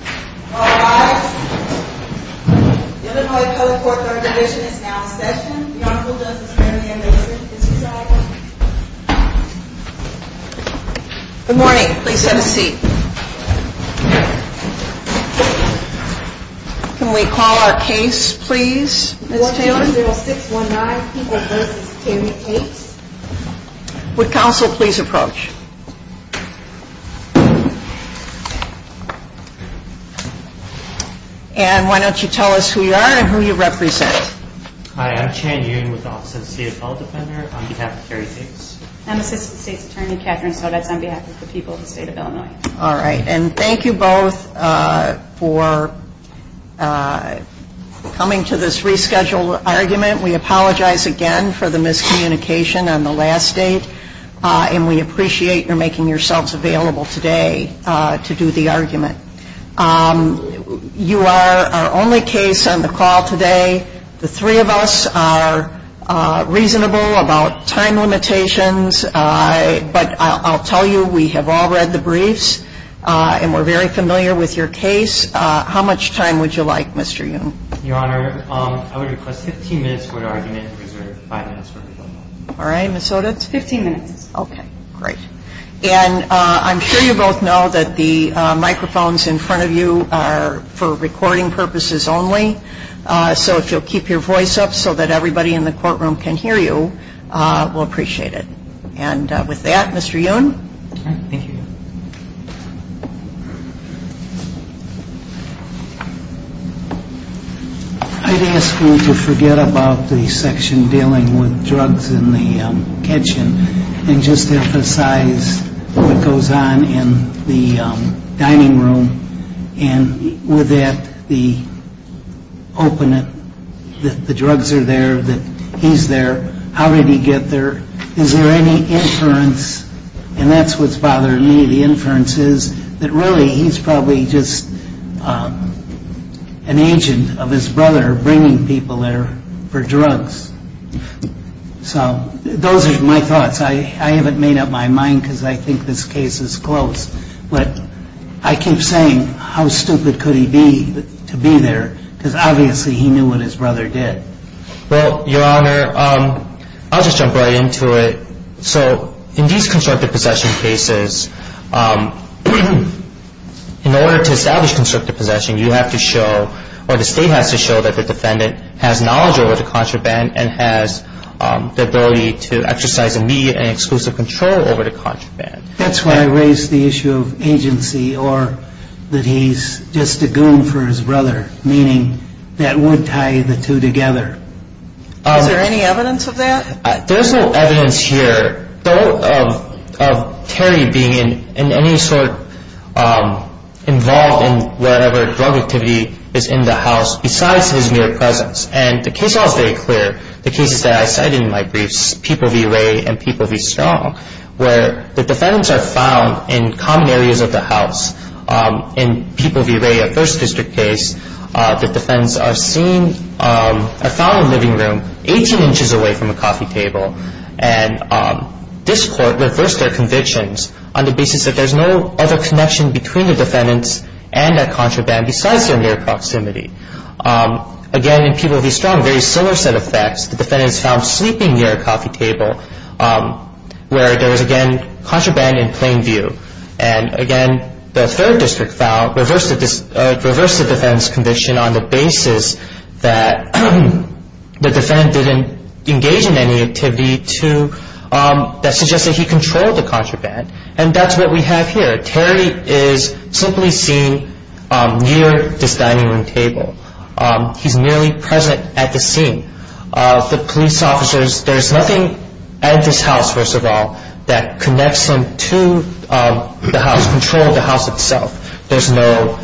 All rise. The Illinois Public Court Third Division is now in session. The Honorable Justice Mary Ann Dixon is presiding. Good morning. Please have a seat. Can we call our case please, Ms. Taylor? 10619 People v. Terry Tates. Would counsel please approach? And why don't you tell us who you are and who you represent? Hi, I'm Chan Yoon with the Office of the State of Bell Defender on behalf of Terry Tates. I'm Assistant State's Attorney Catherine Sodetz on behalf of the people of the State of Illinois. All right. And thank you both for coming to this rescheduled argument. We apologize again for the miscommunication on the last date. And we appreciate your making yourselves available today to do the argument. You are our only case on the call today. The three of us are reasonable about time limitations. But I'll tell you, we have all read the briefs and we're very familiar with your case. How much time would you like, Mr. Yoon? Your Honor, I would request 15 minutes for the argument reserved for five minutes for rebuttal. All right. Ms. Sodetz? 15 minutes. Okay. Great. And I'm sure you both know that the microphones in front of you are for recording purposes only. So if you'll keep your voice up so that everybody in the courtroom can hear you, we'll appreciate it. And with that, Mr. Yoon? Thank you. I'd ask you to forget about the section dealing with drugs in the kitchen and just emphasize what goes on in the dining room. And with that, the opening, that the drugs are there, that he's there. How did he get there? Is there any inference? And that's what's bothering me, the inferences, that really he's probably just an agent of his brother bringing people there for drugs. So those are my thoughts. I haven't made up my mind because I think this case is close. But I keep saying, how stupid could he be to be there? Because obviously he knew what his brother did. Well, Your Honor, I'll just jump right into it. So in these constructive possession cases, in order to establish constructive possession, you have to show or the State has to show that the defendant has knowledge over the contraband and has the ability to exercise immediate and exclusive control over the contraband. That's why I raised the issue of agency or that he's just a goon for his brother, meaning that would tie the two together. Is there any evidence of that? There's no evidence here of Terry being in any sort involved in whatever drug activity is in the house besides his mere presence. And the case I'll state clear, the cases that I cited in my briefs, People v. Wray and People v. Strong, where the defendants are found in common areas of the house. In People v. Wray, a 1st District case, the defendants are found in a living room, 18 inches away from a coffee table. And this court reversed their convictions on the basis that there's no other connection between the defendants and their contraband besides their mere proximity. Again, in People v. Strong, a very similar set of facts. The defendants found sleeping near a coffee table where there was, again, contraband in plain view. And again, the 3rd District reversed the defendant's conviction on the basis that the defendant didn't engage in any activity that suggested he controlled the contraband. And that's what we have here. Terry is simply seen near this dining room table. He's merely present at the scene. The police officers, there's nothing at this house, first of all, that connects them to the house, control of the house itself. There's no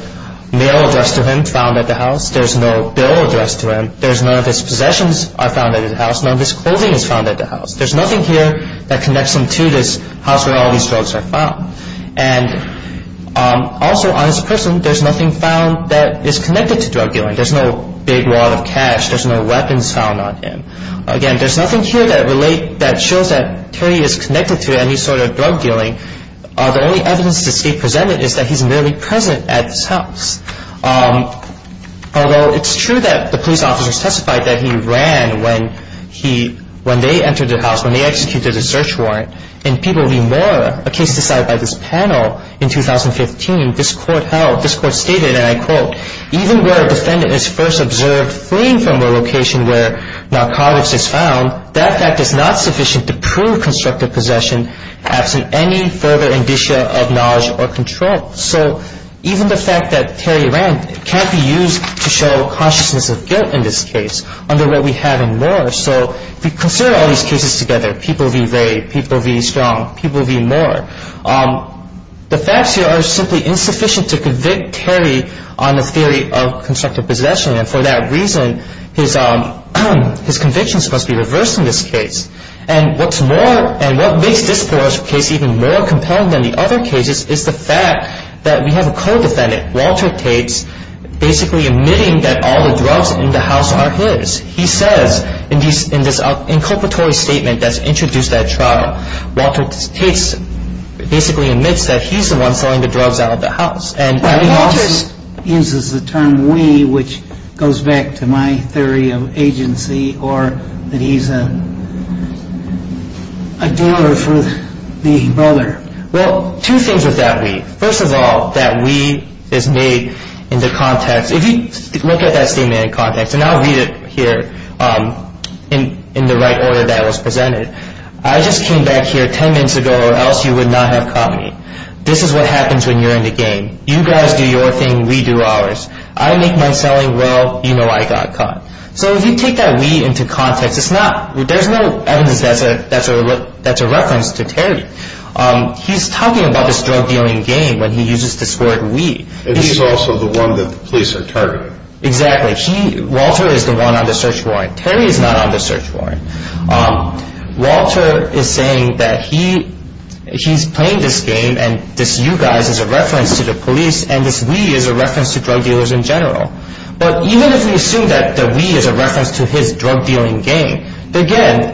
mail addressed to him found at the house. There's no bill addressed to him. None of his possessions are found at his house. None of his clothing is found at the house. There's nothing here that connects him to this house where all these drugs are found. And also on his person, there's nothing found that is connected to drug dealing. There's no big wad of cash. There's no weapons found on him. Again, there's nothing here that shows that Terry is connected to any sort of drug dealing. The only evidence to state presented is that he's merely present at this house. Although it's true that the police officers testified that he ran when they entered the house, when they executed a search warrant. In People v. Moore, a case decided by this panel in 2015, this court held, this court stated, and I quote, even where a defendant is first observed fleeing from a location where narcotics is found, that fact is not sufficient to prove constructive possession absent any further indicia of knowledge or control. So even the fact that Terry ran can't be used to show consciousness of guilt in this case under where we have in Moore. So if we consider all these cases together, People v. Ray, People v. Strong, People v. Moore, the facts here are simply insufficient to convict Terry on the theory of constructive possession. And for that reason, his conviction is supposed to be reversed in this case. And what makes this case even more compelling than the other cases is the fact that we have a co-defendant, Walter Tates, basically admitting that all the drugs in the house are his. He says in this inculpatory statement that's introduced at trial, Walter Tates basically admits that he's the one selling the drugs out of the house. Walter uses the term we, which goes back to my theory of agency, or that he's a dealer for the brother. Well, two things with that we. First of all, that we is made in the context. If you look at that statement in context, and I'll read it here in the right order that it was presented. I just came back here 10 minutes ago or else you would not have caught me. This is what happens when you're in the game. You guys do your thing, we do ours. I make my selling, well, you know I got caught. So if you take that we into context, there's no evidence that's a reference to Terry. He's talking about this drug dealing game when he uses this word we. And he's also the one that the police are targeting. Exactly. Walter is the one on the search warrant. Terry is not on the search warrant. Walter is saying that he's playing this game and this you guys is a reference to the police and this we is a reference to drug dealers in general. But even if we assume that the we is a reference to his drug dealing game, again,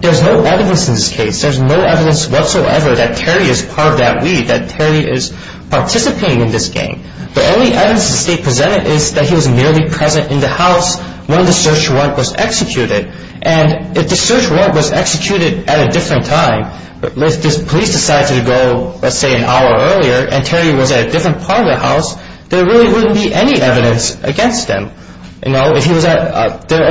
there's no evidence in this case. There's no evidence whatsoever that Terry is part of that we, that Terry is participating in this game. The only evidence they presented is that he was merely present in the house when the search warrant was executed. And if the search warrant was executed at a different time, if the police decided to go, let's say, an hour earlier and Terry was at a different part of the house, there really wouldn't be any evidence against him. The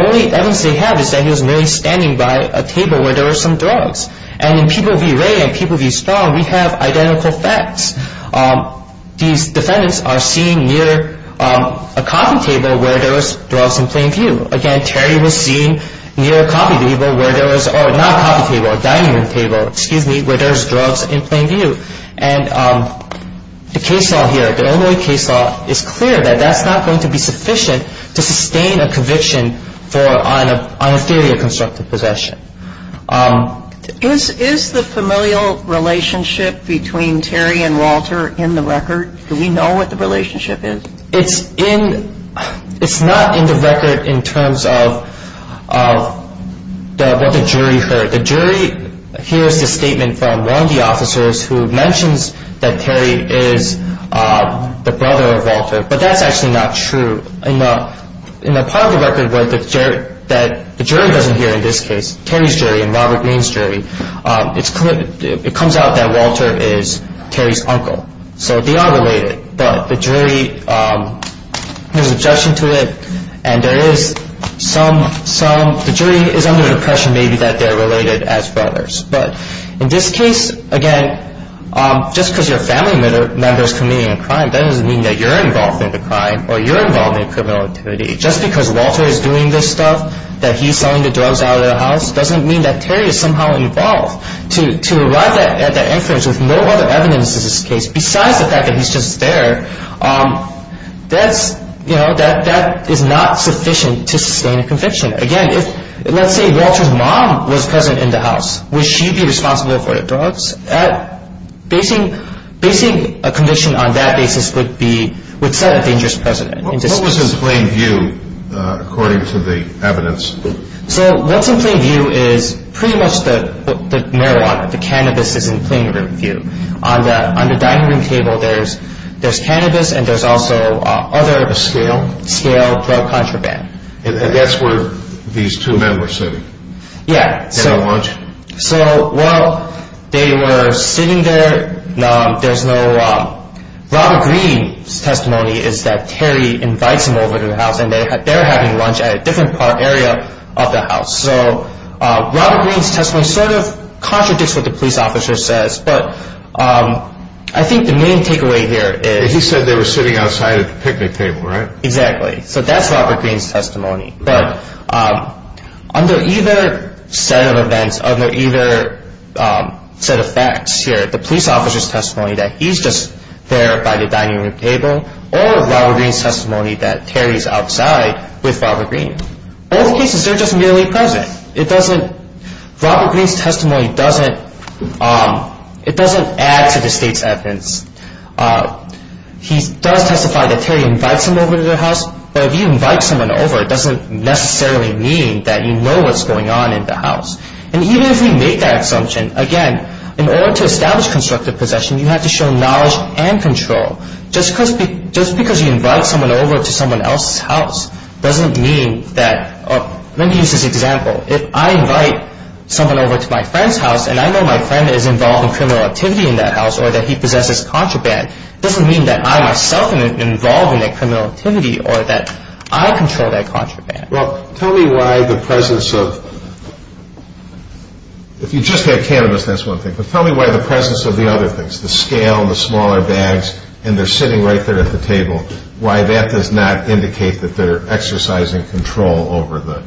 only evidence they have is that he was merely standing by a table where there were some drugs. And in People v. Ray and People v. Strong, we have identical facts. These defendants are seen near a coffee table where there was drugs in plain view. Again, Terry was seen near a coffee table where there was, or not a coffee table, a dining room table, excuse me, where there was drugs in plain view. And the case law here, the Illinois case law, is clear that that's not going to be sufficient to sustain a conviction on a theory of constructive possession. Is the familial relationship between Terry and Walter in the record? Do we know what the relationship is? It's not in the record in terms of what the jury heard. The jury hears the statement from one of the officers who mentions that Terry is the brother of Walter. But that's actually not true. In the part of the record where the jury doesn't hear, in this case, Terry's jury and Robert Greene's jury, it comes out that Walter is Terry's uncle. So they are related. But the jury, there's objection to it, and there is some, the jury is under the impression maybe that they're related as brothers. But in this case, again, just because your family member is committing a crime, that doesn't mean that you're involved in the crime or you're involved in criminal activity. Just because Walter is doing this stuff, that he's selling the drugs out of the house, doesn't mean that Terry is somehow involved. To arrive at that inference with no other evidence in this case besides the fact that he's just there, that's, you know, that is not sufficient to sustain a conviction. Again, let's say Walter's mom was present in the house. Would she be responsible for the drugs? Basing a conviction on that basis would be, would set a dangerous precedent. What was in plain view according to the evidence? So what's in plain view is pretty much the marijuana, the cannabis is in plain view. On the dining room table, there's cannabis and there's also other scale drug contraband. And that's where these two men were sitting? Yeah. Having lunch? So, well, they were sitting there. There's no, Robert Greene's testimony is that Terry invites them over to the house and they're having lunch at a different part, area of the house. So Robert Greene's testimony sort of contradicts what the police officer says, but I think the main takeaway here is. He said they were sitting outside at the picnic table, right? Exactly. So that's Robert Greene's testimony. But under either set of events, under either set of facts here, the police officer's testimony that he's just there by the dining room table or Robert Greene's testimony that Terry's outside with Robert Greene. Both cases, they're just merely present. It doesn't, Robert Greene's testimony doesn't, it doesn't add to the state's evidence. He does testify that Terry invites him over to the house, but if you invite someone over, it doesn't necessarily mean that you know what's going on in the house. And even if we make that assumption, again, in order to establish constructive possession, you have to show knowledge and control. Just because you invite someone over to someone else's house doesn't mean that, let me use this example. If I invite someone over to my friend's house and I know my friend is involved in criminal activity in that house or that he possesses contraband, it doesn't mean that I myself am involved in that criminal activity or that I control that contraband. Well, tell me why the presence of, if you just had cannabis, that's one thing, but tell me why the presence of the other things, the scale, the smaller bags, and they're sitting right there at the table, why that does not indicate that they're exercising control over the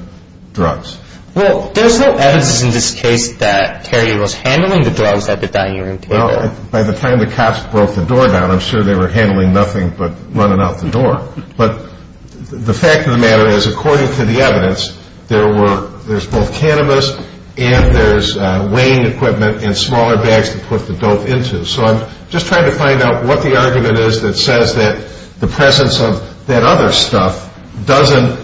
drugs. Well, there's no evidence in this case that Terry was handling the drugs at the dining room table. By the time the cops broke the door down, I'm sure they were handling nothing but running out the door. But the fact of the matter is, according to the evidence, there's both cannabis and there's weighing equipment and smaller bags to put the dope into. So I'm just trying to find out what the argument is that says that the presence of that other stuff doesn't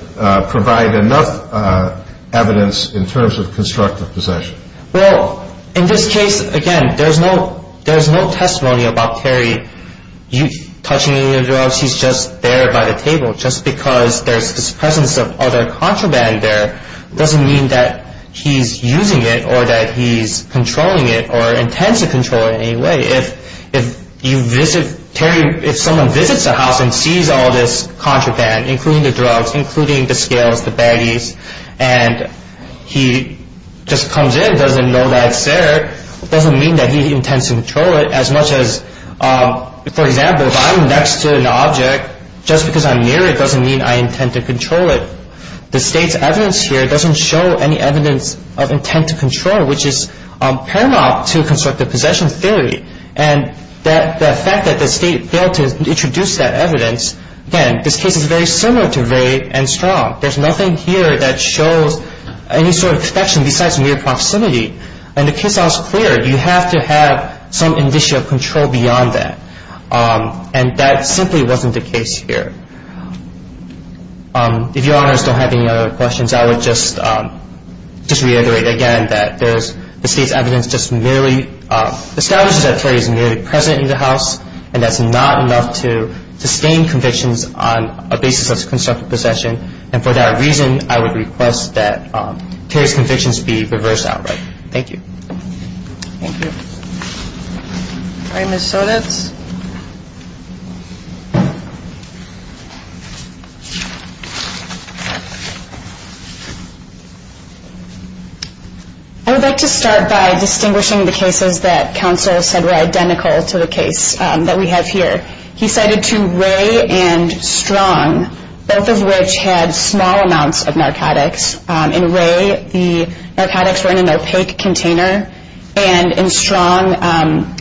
provide enough evidence in terms of constructive possession. Well, in this case, again, there's no testimony about Terry touching any of the drugs. He's just there by the table. Just because there's this presence of other contraband there doesn't mean that he's using it or that he's controlling it or intends to control it in any way. If someone visits the house and sees all this contraband, including the drugs, including the scales, the baggies, and he just comes in and doesn't know that it's there, it doesn't mean that he intends to control it as much as, for example, if I'm next to an object, just because I'm near it doesn't mean I intend to control it. The state's evidence here doesn't show any evidence of intent to control, which is paramount to constructive possession theory. And the fact that the state failed to introduce that evidence, again, this case is very similar to Rae and Strong. There's nothing here that shows any sort of protection besides mere proximity. And the case is clear. You have to have some initial control beyond that. And that simply wasn't the case here. If Your Honors don't have any other questions, I would just reiterate again that the state's evidence just merely establishes that Terry is merely present in the house, and that's not enough to sustain convictions on a basis of constructive possession. And for that reason, I would request that Terry's convictions be reversed outright. Thank you. Thank you. All right, Ms. Sonitz. I would like to start by distinguishing the cases that counsel said were identical to the case that we have here. He cited two, Rae and Strong, both of which had small amounts of narcotics. In Rae, the narcotics were in an opaque container. And in Strong,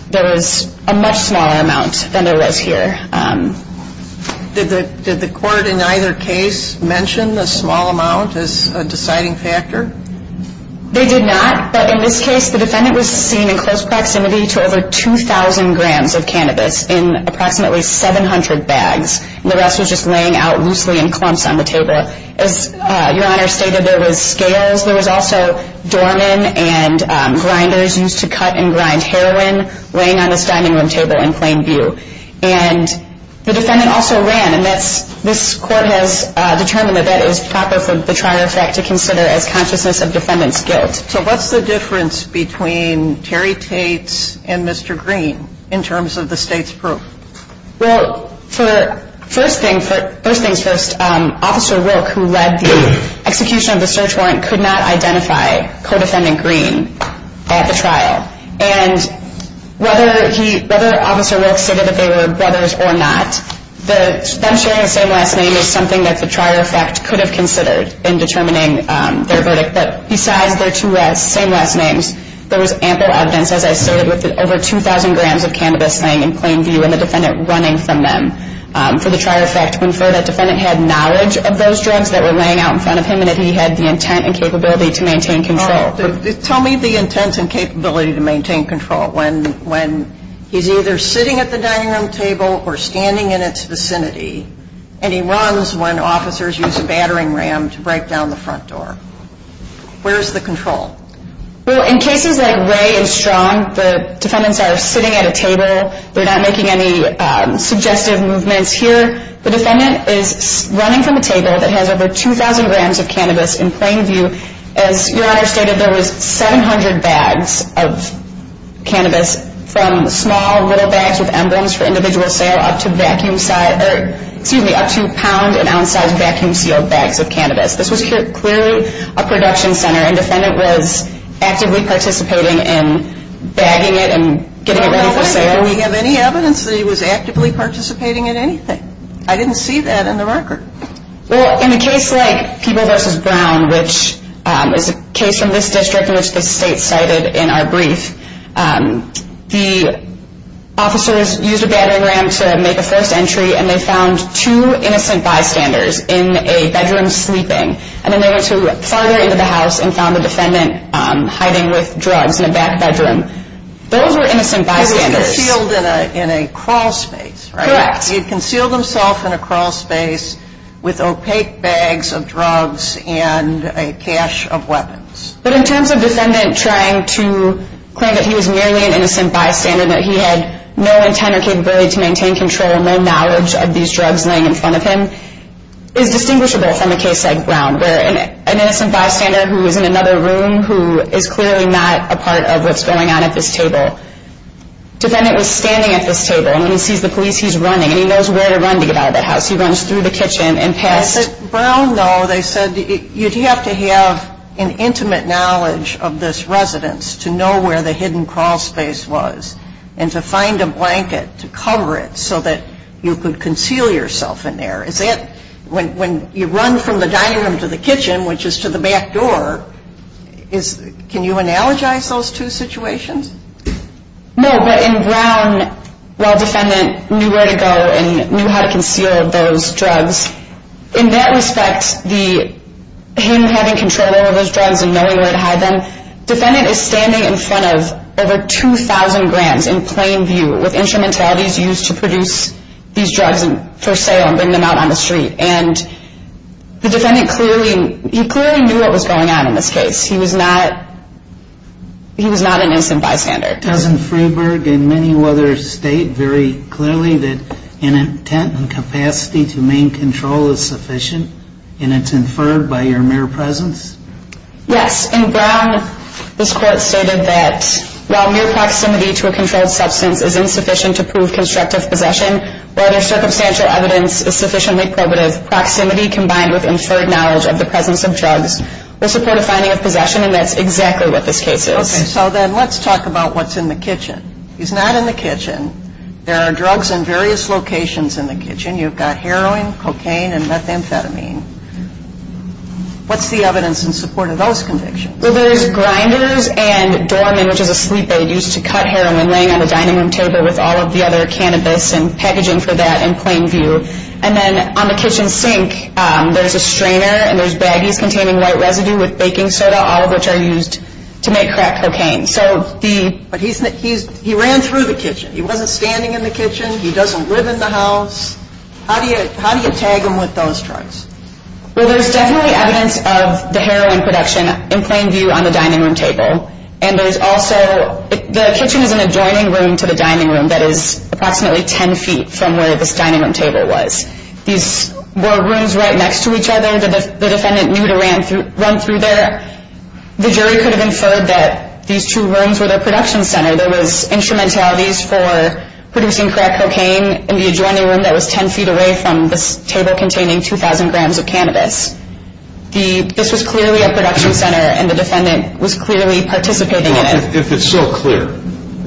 there was a much smaller amount than there was here. Did the court in either case mention the small amount as a deciding factor? They did not. But in this case, the defendant was seen in close proximity to over 2,000 grams of cannabis in approximately 700 bags. The rest was just laying out loosely in clumps on the table. As Your Honor stated, there was scales. There was also doormen and grinders used to cut and grind heroin laying on this dining room table in plain view. And the defendant also ran, and this Court has determined that that is proper for the trial effect to consider as consciousness of defendant's guilt. So what's the difference between Terry Tate and Mr. Green in terms of the state's proof? Well, first things first, Officer Wilk, who led the execution of the search warrant, could not identify Codefendant Green at the trial. And whether Officer Wilk stated that they were brothers or not, them sharing the same last name is something that the trial effect could have considered in determining their verdict. But besides their two same last names, there was ample evidence, as I stated, with over 2,000 grams of cannabis laying in plain view and the defendant running from them for the trial effect to infer that defendant had knowledge of those drugs that were laying out in front of him and that he had the intent and capability to maintain control. Tell me the intent and capability to maintain control when he's either sitting at the dining room table or standing in its vicinity and he runs when officers use a battering ram to break down the front door. Where is the control? Well, in cases like Ray and Strong, the defendants are sitting at a table. They're not making any suggestive movements. Here, the defendant is running from a table that has over 2,000 grams of cannabis in plain view. As Your Honor stated, there was 700 bags of cannabis from small little bags with emblems for individual sale up to pound- and ounce-sized vacuum-sealed bags of cannabis. This was clearly a production center and defendant was actively participating in bagging it and getting it ready for sale. Do we have any evidence that he was actively participating in anything? I didn't see that in the marker. Well, in a case like People v. Brown, which is a case from this district in which the state cited in our brief, the officers used a battering ram to make a first entry and they found two innocent bystanders in a bedroom sleeping. And then they went farther into the house and found the defendant hiding with drugs in a back bedroom. Those were innocent bystanders. He was concealed in a crawl space, right? Correct. He had concealed himself in a crawl space with opaque bags of drugs and a cache of weapons. But in terms of defendant trying to claim that he was merely an innocent bystander, that he had no intent or capability to maintain control, no knowledge of these drugs laying in front of him, is distinguishable from a case like Brown where an innocent bystander who was in another room who is clearly not a part of what's going on at this table. Defendant was standing at this table and when he sees the police he's running and he knows where to run to get out of that house. He runs through the kitchen and passed... Brown, though, they said you'd have to have an intimate knowledge of this residence to know where the hidden crawl space was and to find a blanket to cover it so that you could conceal yourself in there. When you run from the dining room to the kitchen, which is to the back door, can you analogize those two situations? No, but in Brown, while defendant knew where to go and knew how to conceal those drugs, in that respect, him having control over those drugs and knowing where to hide them, defendant is standing in front of over 2,000 grams in plain view with instrumentalities used to produce these drugs for sale and bring them out on the street. And the defendant clearly knew what was going on in this case. He was not an innocent bystander. Doesn't Freeberg and many others state very clearly that an intent and capacity to main control is sufficient and it's inferred by your mere presence? Yes, in Brown, this court stated that while mere proximity to a controlled substance is insufficient to prove constructive possession or other circumstantial evidence is sufficiently probative, proximity combined with inferred knowledge of the presence of drugs will support a finding of possession and that's exactly what this case is. Okay, so then let's talk about what's in the kitchen. He's not in the kitchen. There are drugs in various locations in the kitchen. You've got heroin, cocaine, and methamphetamine. What's the evidence in support of those convictions? Well, there's grinders and Dorman, which is a sleep aid used to cut heroin, laying on the dining room table with all of the other cannabis and packaging for that in plain view. And then on the kitchen sink, there's a strainer and there's baggies containing white residue with baking soda, all of which are used to make crack cocaine. But he ran through the kitchen. He wasn't standing in the kitchen. He doesn't live in the house. How do you tag him with those drugs? Well, there's definitely evidence of the heroin production in plain view on the dining room table, and there's also the kitchen is an adjoining room to the dining room that is approximately 10 feet from where this dining room table was. These were rooms right next to each other. The defendant knew to run through there. The jury could have inferred that these two rooms were the production center. There was instrumentalities for producing crack cocaine in the adjoining room that was 10 feet away from this table containing 2,000 grams of cannabis. This was clearly a production center, and the defendant was clearly participating in it. If it's so clear,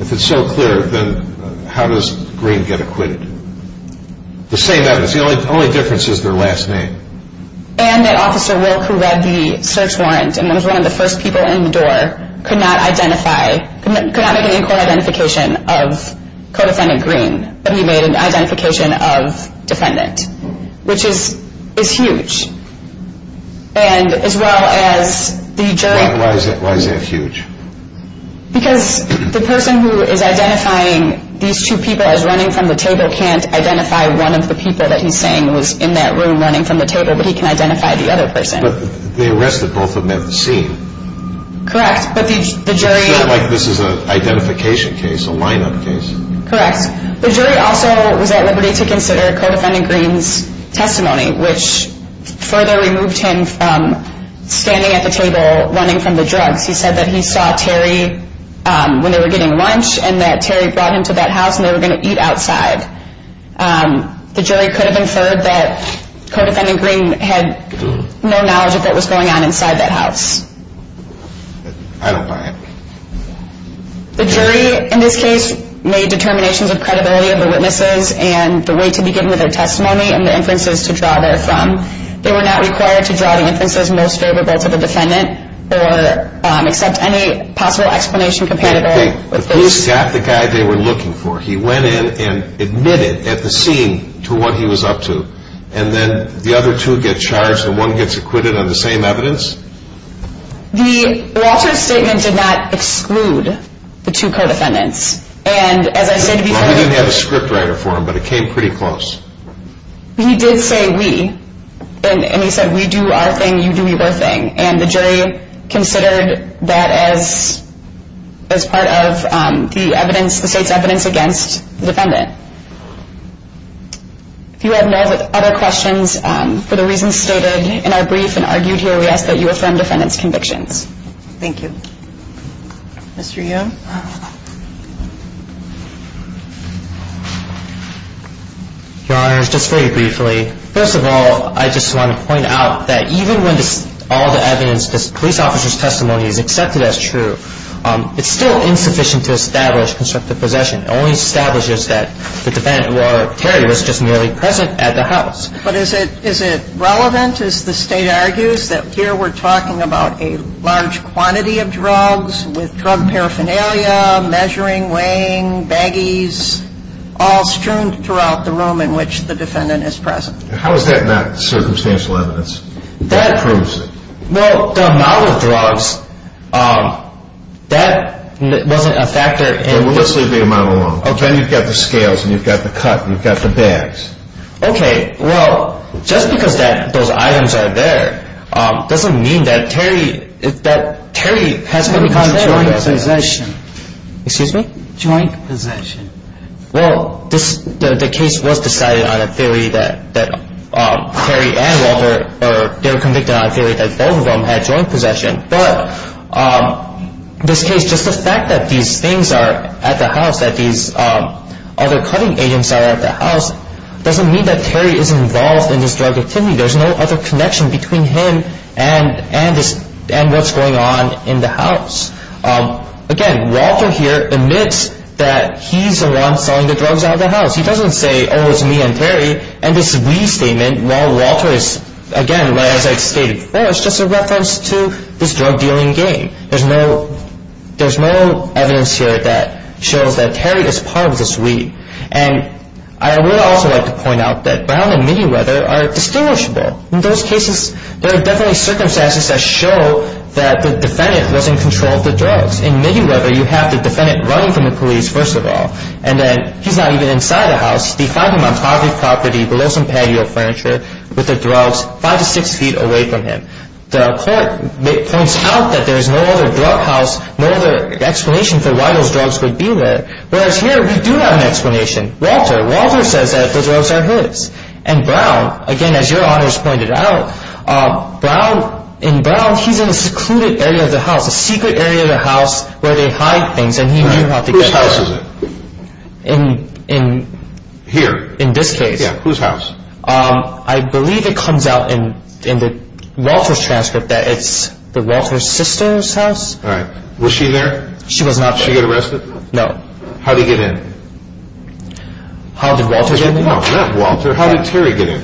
if it's so clear, then how does Green get acquitted? The same evidence. The only difference is their last name. And that Officer Wilk, who read the search warrant and was one of the first people in the door, could not make an in-court identification of co-defendant Green, but he made an identification of defendant, which is huge. And as well as the jury. Why is that huge? Because the person who is identifying these two people as running from the table can't identify one of the people that he's saying was in that room running from the table, but he can identify the other person. But they arrested both of them at the scene. Correct. But the jury... It's not like this is an identification case, a lineup case. Correct. The jury also was at liberty to consider co-defendant Green's testimony, which further removed him from standing at the table running from the drugs. He said that he saw Terry when they were getting lunch and that Terry brought him to that house and they were going to eat outside. The jury could have inferred that co-defendant Green had no knowledge of what was going on inside that house. I don't buy it. The jury, in this case, made determinations of credibility of the witnesses and the way to begin with their testimony and the inferences to draw therefrom. They were not required to draw the inferences most favorable to the defendant or accept any possible explanation compatible with this. The police got the guy they were looking for. He went in and admitted at the scene to what he was up to, and then the other two get charged and one gets acquitted on the same evidence? Walter's statement did not exclude the two co-defendants. We didn't have a script writer for him, but it came pretty close. He did say we, and he said we do our thing, you do your thing, and the jury considered that as part of the evidence, the state's evidence against the defendant. If you have no other questions for the reasons stated in our brief and argued here, we ask that you affirm defendant's convictions. Thank you. Mr. Young? Your Honor, just very briefly, first of all, I just want to point out that even when all the evidence, this police officer's testimony is accepted as true, it's still insufficient to establish constructive possession. It only establishes that the defendant, or Terry, was just merely present at the house. But is it relevant, as the state argues, that here we're talking about a large quantity of drugs, with drug paraphernalia, measuring, weighing, baggies, all strewn throughout the room in which the defendant is present? How is that not circumstantial evidence that proves it? Well, the amount of drugs, that wasn't a factor. Well, let's leave the amount alone. Then you've got the scales and you've got the cut and you've got the bags. Okay. Well, just because those items are there, doesn't mean that Terry has any kind of joint possession. Excuse me? Joint possession. Well, the case was decided on a theory that Terry and Walter, they were convicted on a theory that both of them had joint possession. But in this case, just the fact that these things are at the house, that these other cutting agents are at the house, doesn't mean that Terry is involved in this drug activity. There's no other connection between him and what's going on in the house. Again, Walter here admits that he's the one selling the drugs out of the house. He doesn't say, oh, it's me and Terry. And this restatement, while Walter is, again, as I stated before, it's just a reference to this drug dealing game. There's no evidence here that shows that Terry is part of this weed. And I would also like to point out that Brown and Miniweather are distinguishable. In those cases, there are definitely circumstances that show that the defendant was in control of the drugs. In Miniweather, you have the defendant running from the police, first of all, and then he's not even inside the house. They find him on private property below some patio furniture with the drugs, five to six feet away from him. The court points out that there's no other drug house, no other explanation for why those drugs would be there. Whereas here, we do have an explanation. Walter, Walter says that the drugs are his. And Brown, again, as your honors pointed out, in Brown, he's in a secluded area of the house, a secret area of the house where they hide things, and he knew how to get there. Whose house is it? In this case. Yeah, whose house? I believe it comes out in the Walter's transcript that it's the Walter's sister's house. All right. Was she there? She was not there. Did she get arrested? No. How did he get in? How did Walter get in? No, not Walter. How did Terry get in?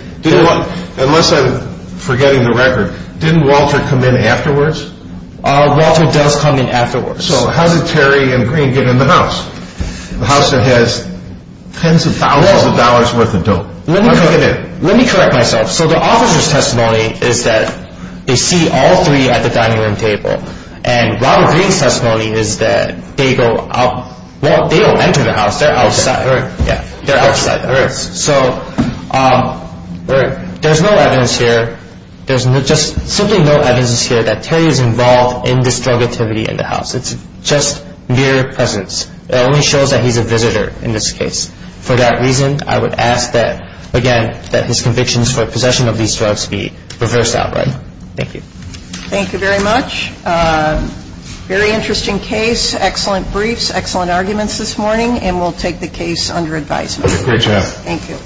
Unless I'm forgetting the record, didn't Walter come in afterwards? Walter does come in afterwards. So how did Terry and Green get in the house, the house that has tens of thousands of dollars worth of dope? Let me correct myself. So the officer's testimony is that they see all three at the dining room table, and Robert Green's testimony is that they go out, well, they don't enter the house. They're outside. Yeah, they're outside. So there's no evidence here. There's just simply no evidence here that Terry is involved in this drug activity in the house. It's just mere presence. It only shows that he's a visitor in this case. For that reason, I would ask that, again, that his convictions for possession of these drugs be reversed outright. Thank you. Thank you very much. Very interesting case, excellent briefs, excellent arguments this morning, and we'll take the case under advisement. Great job. Thank you.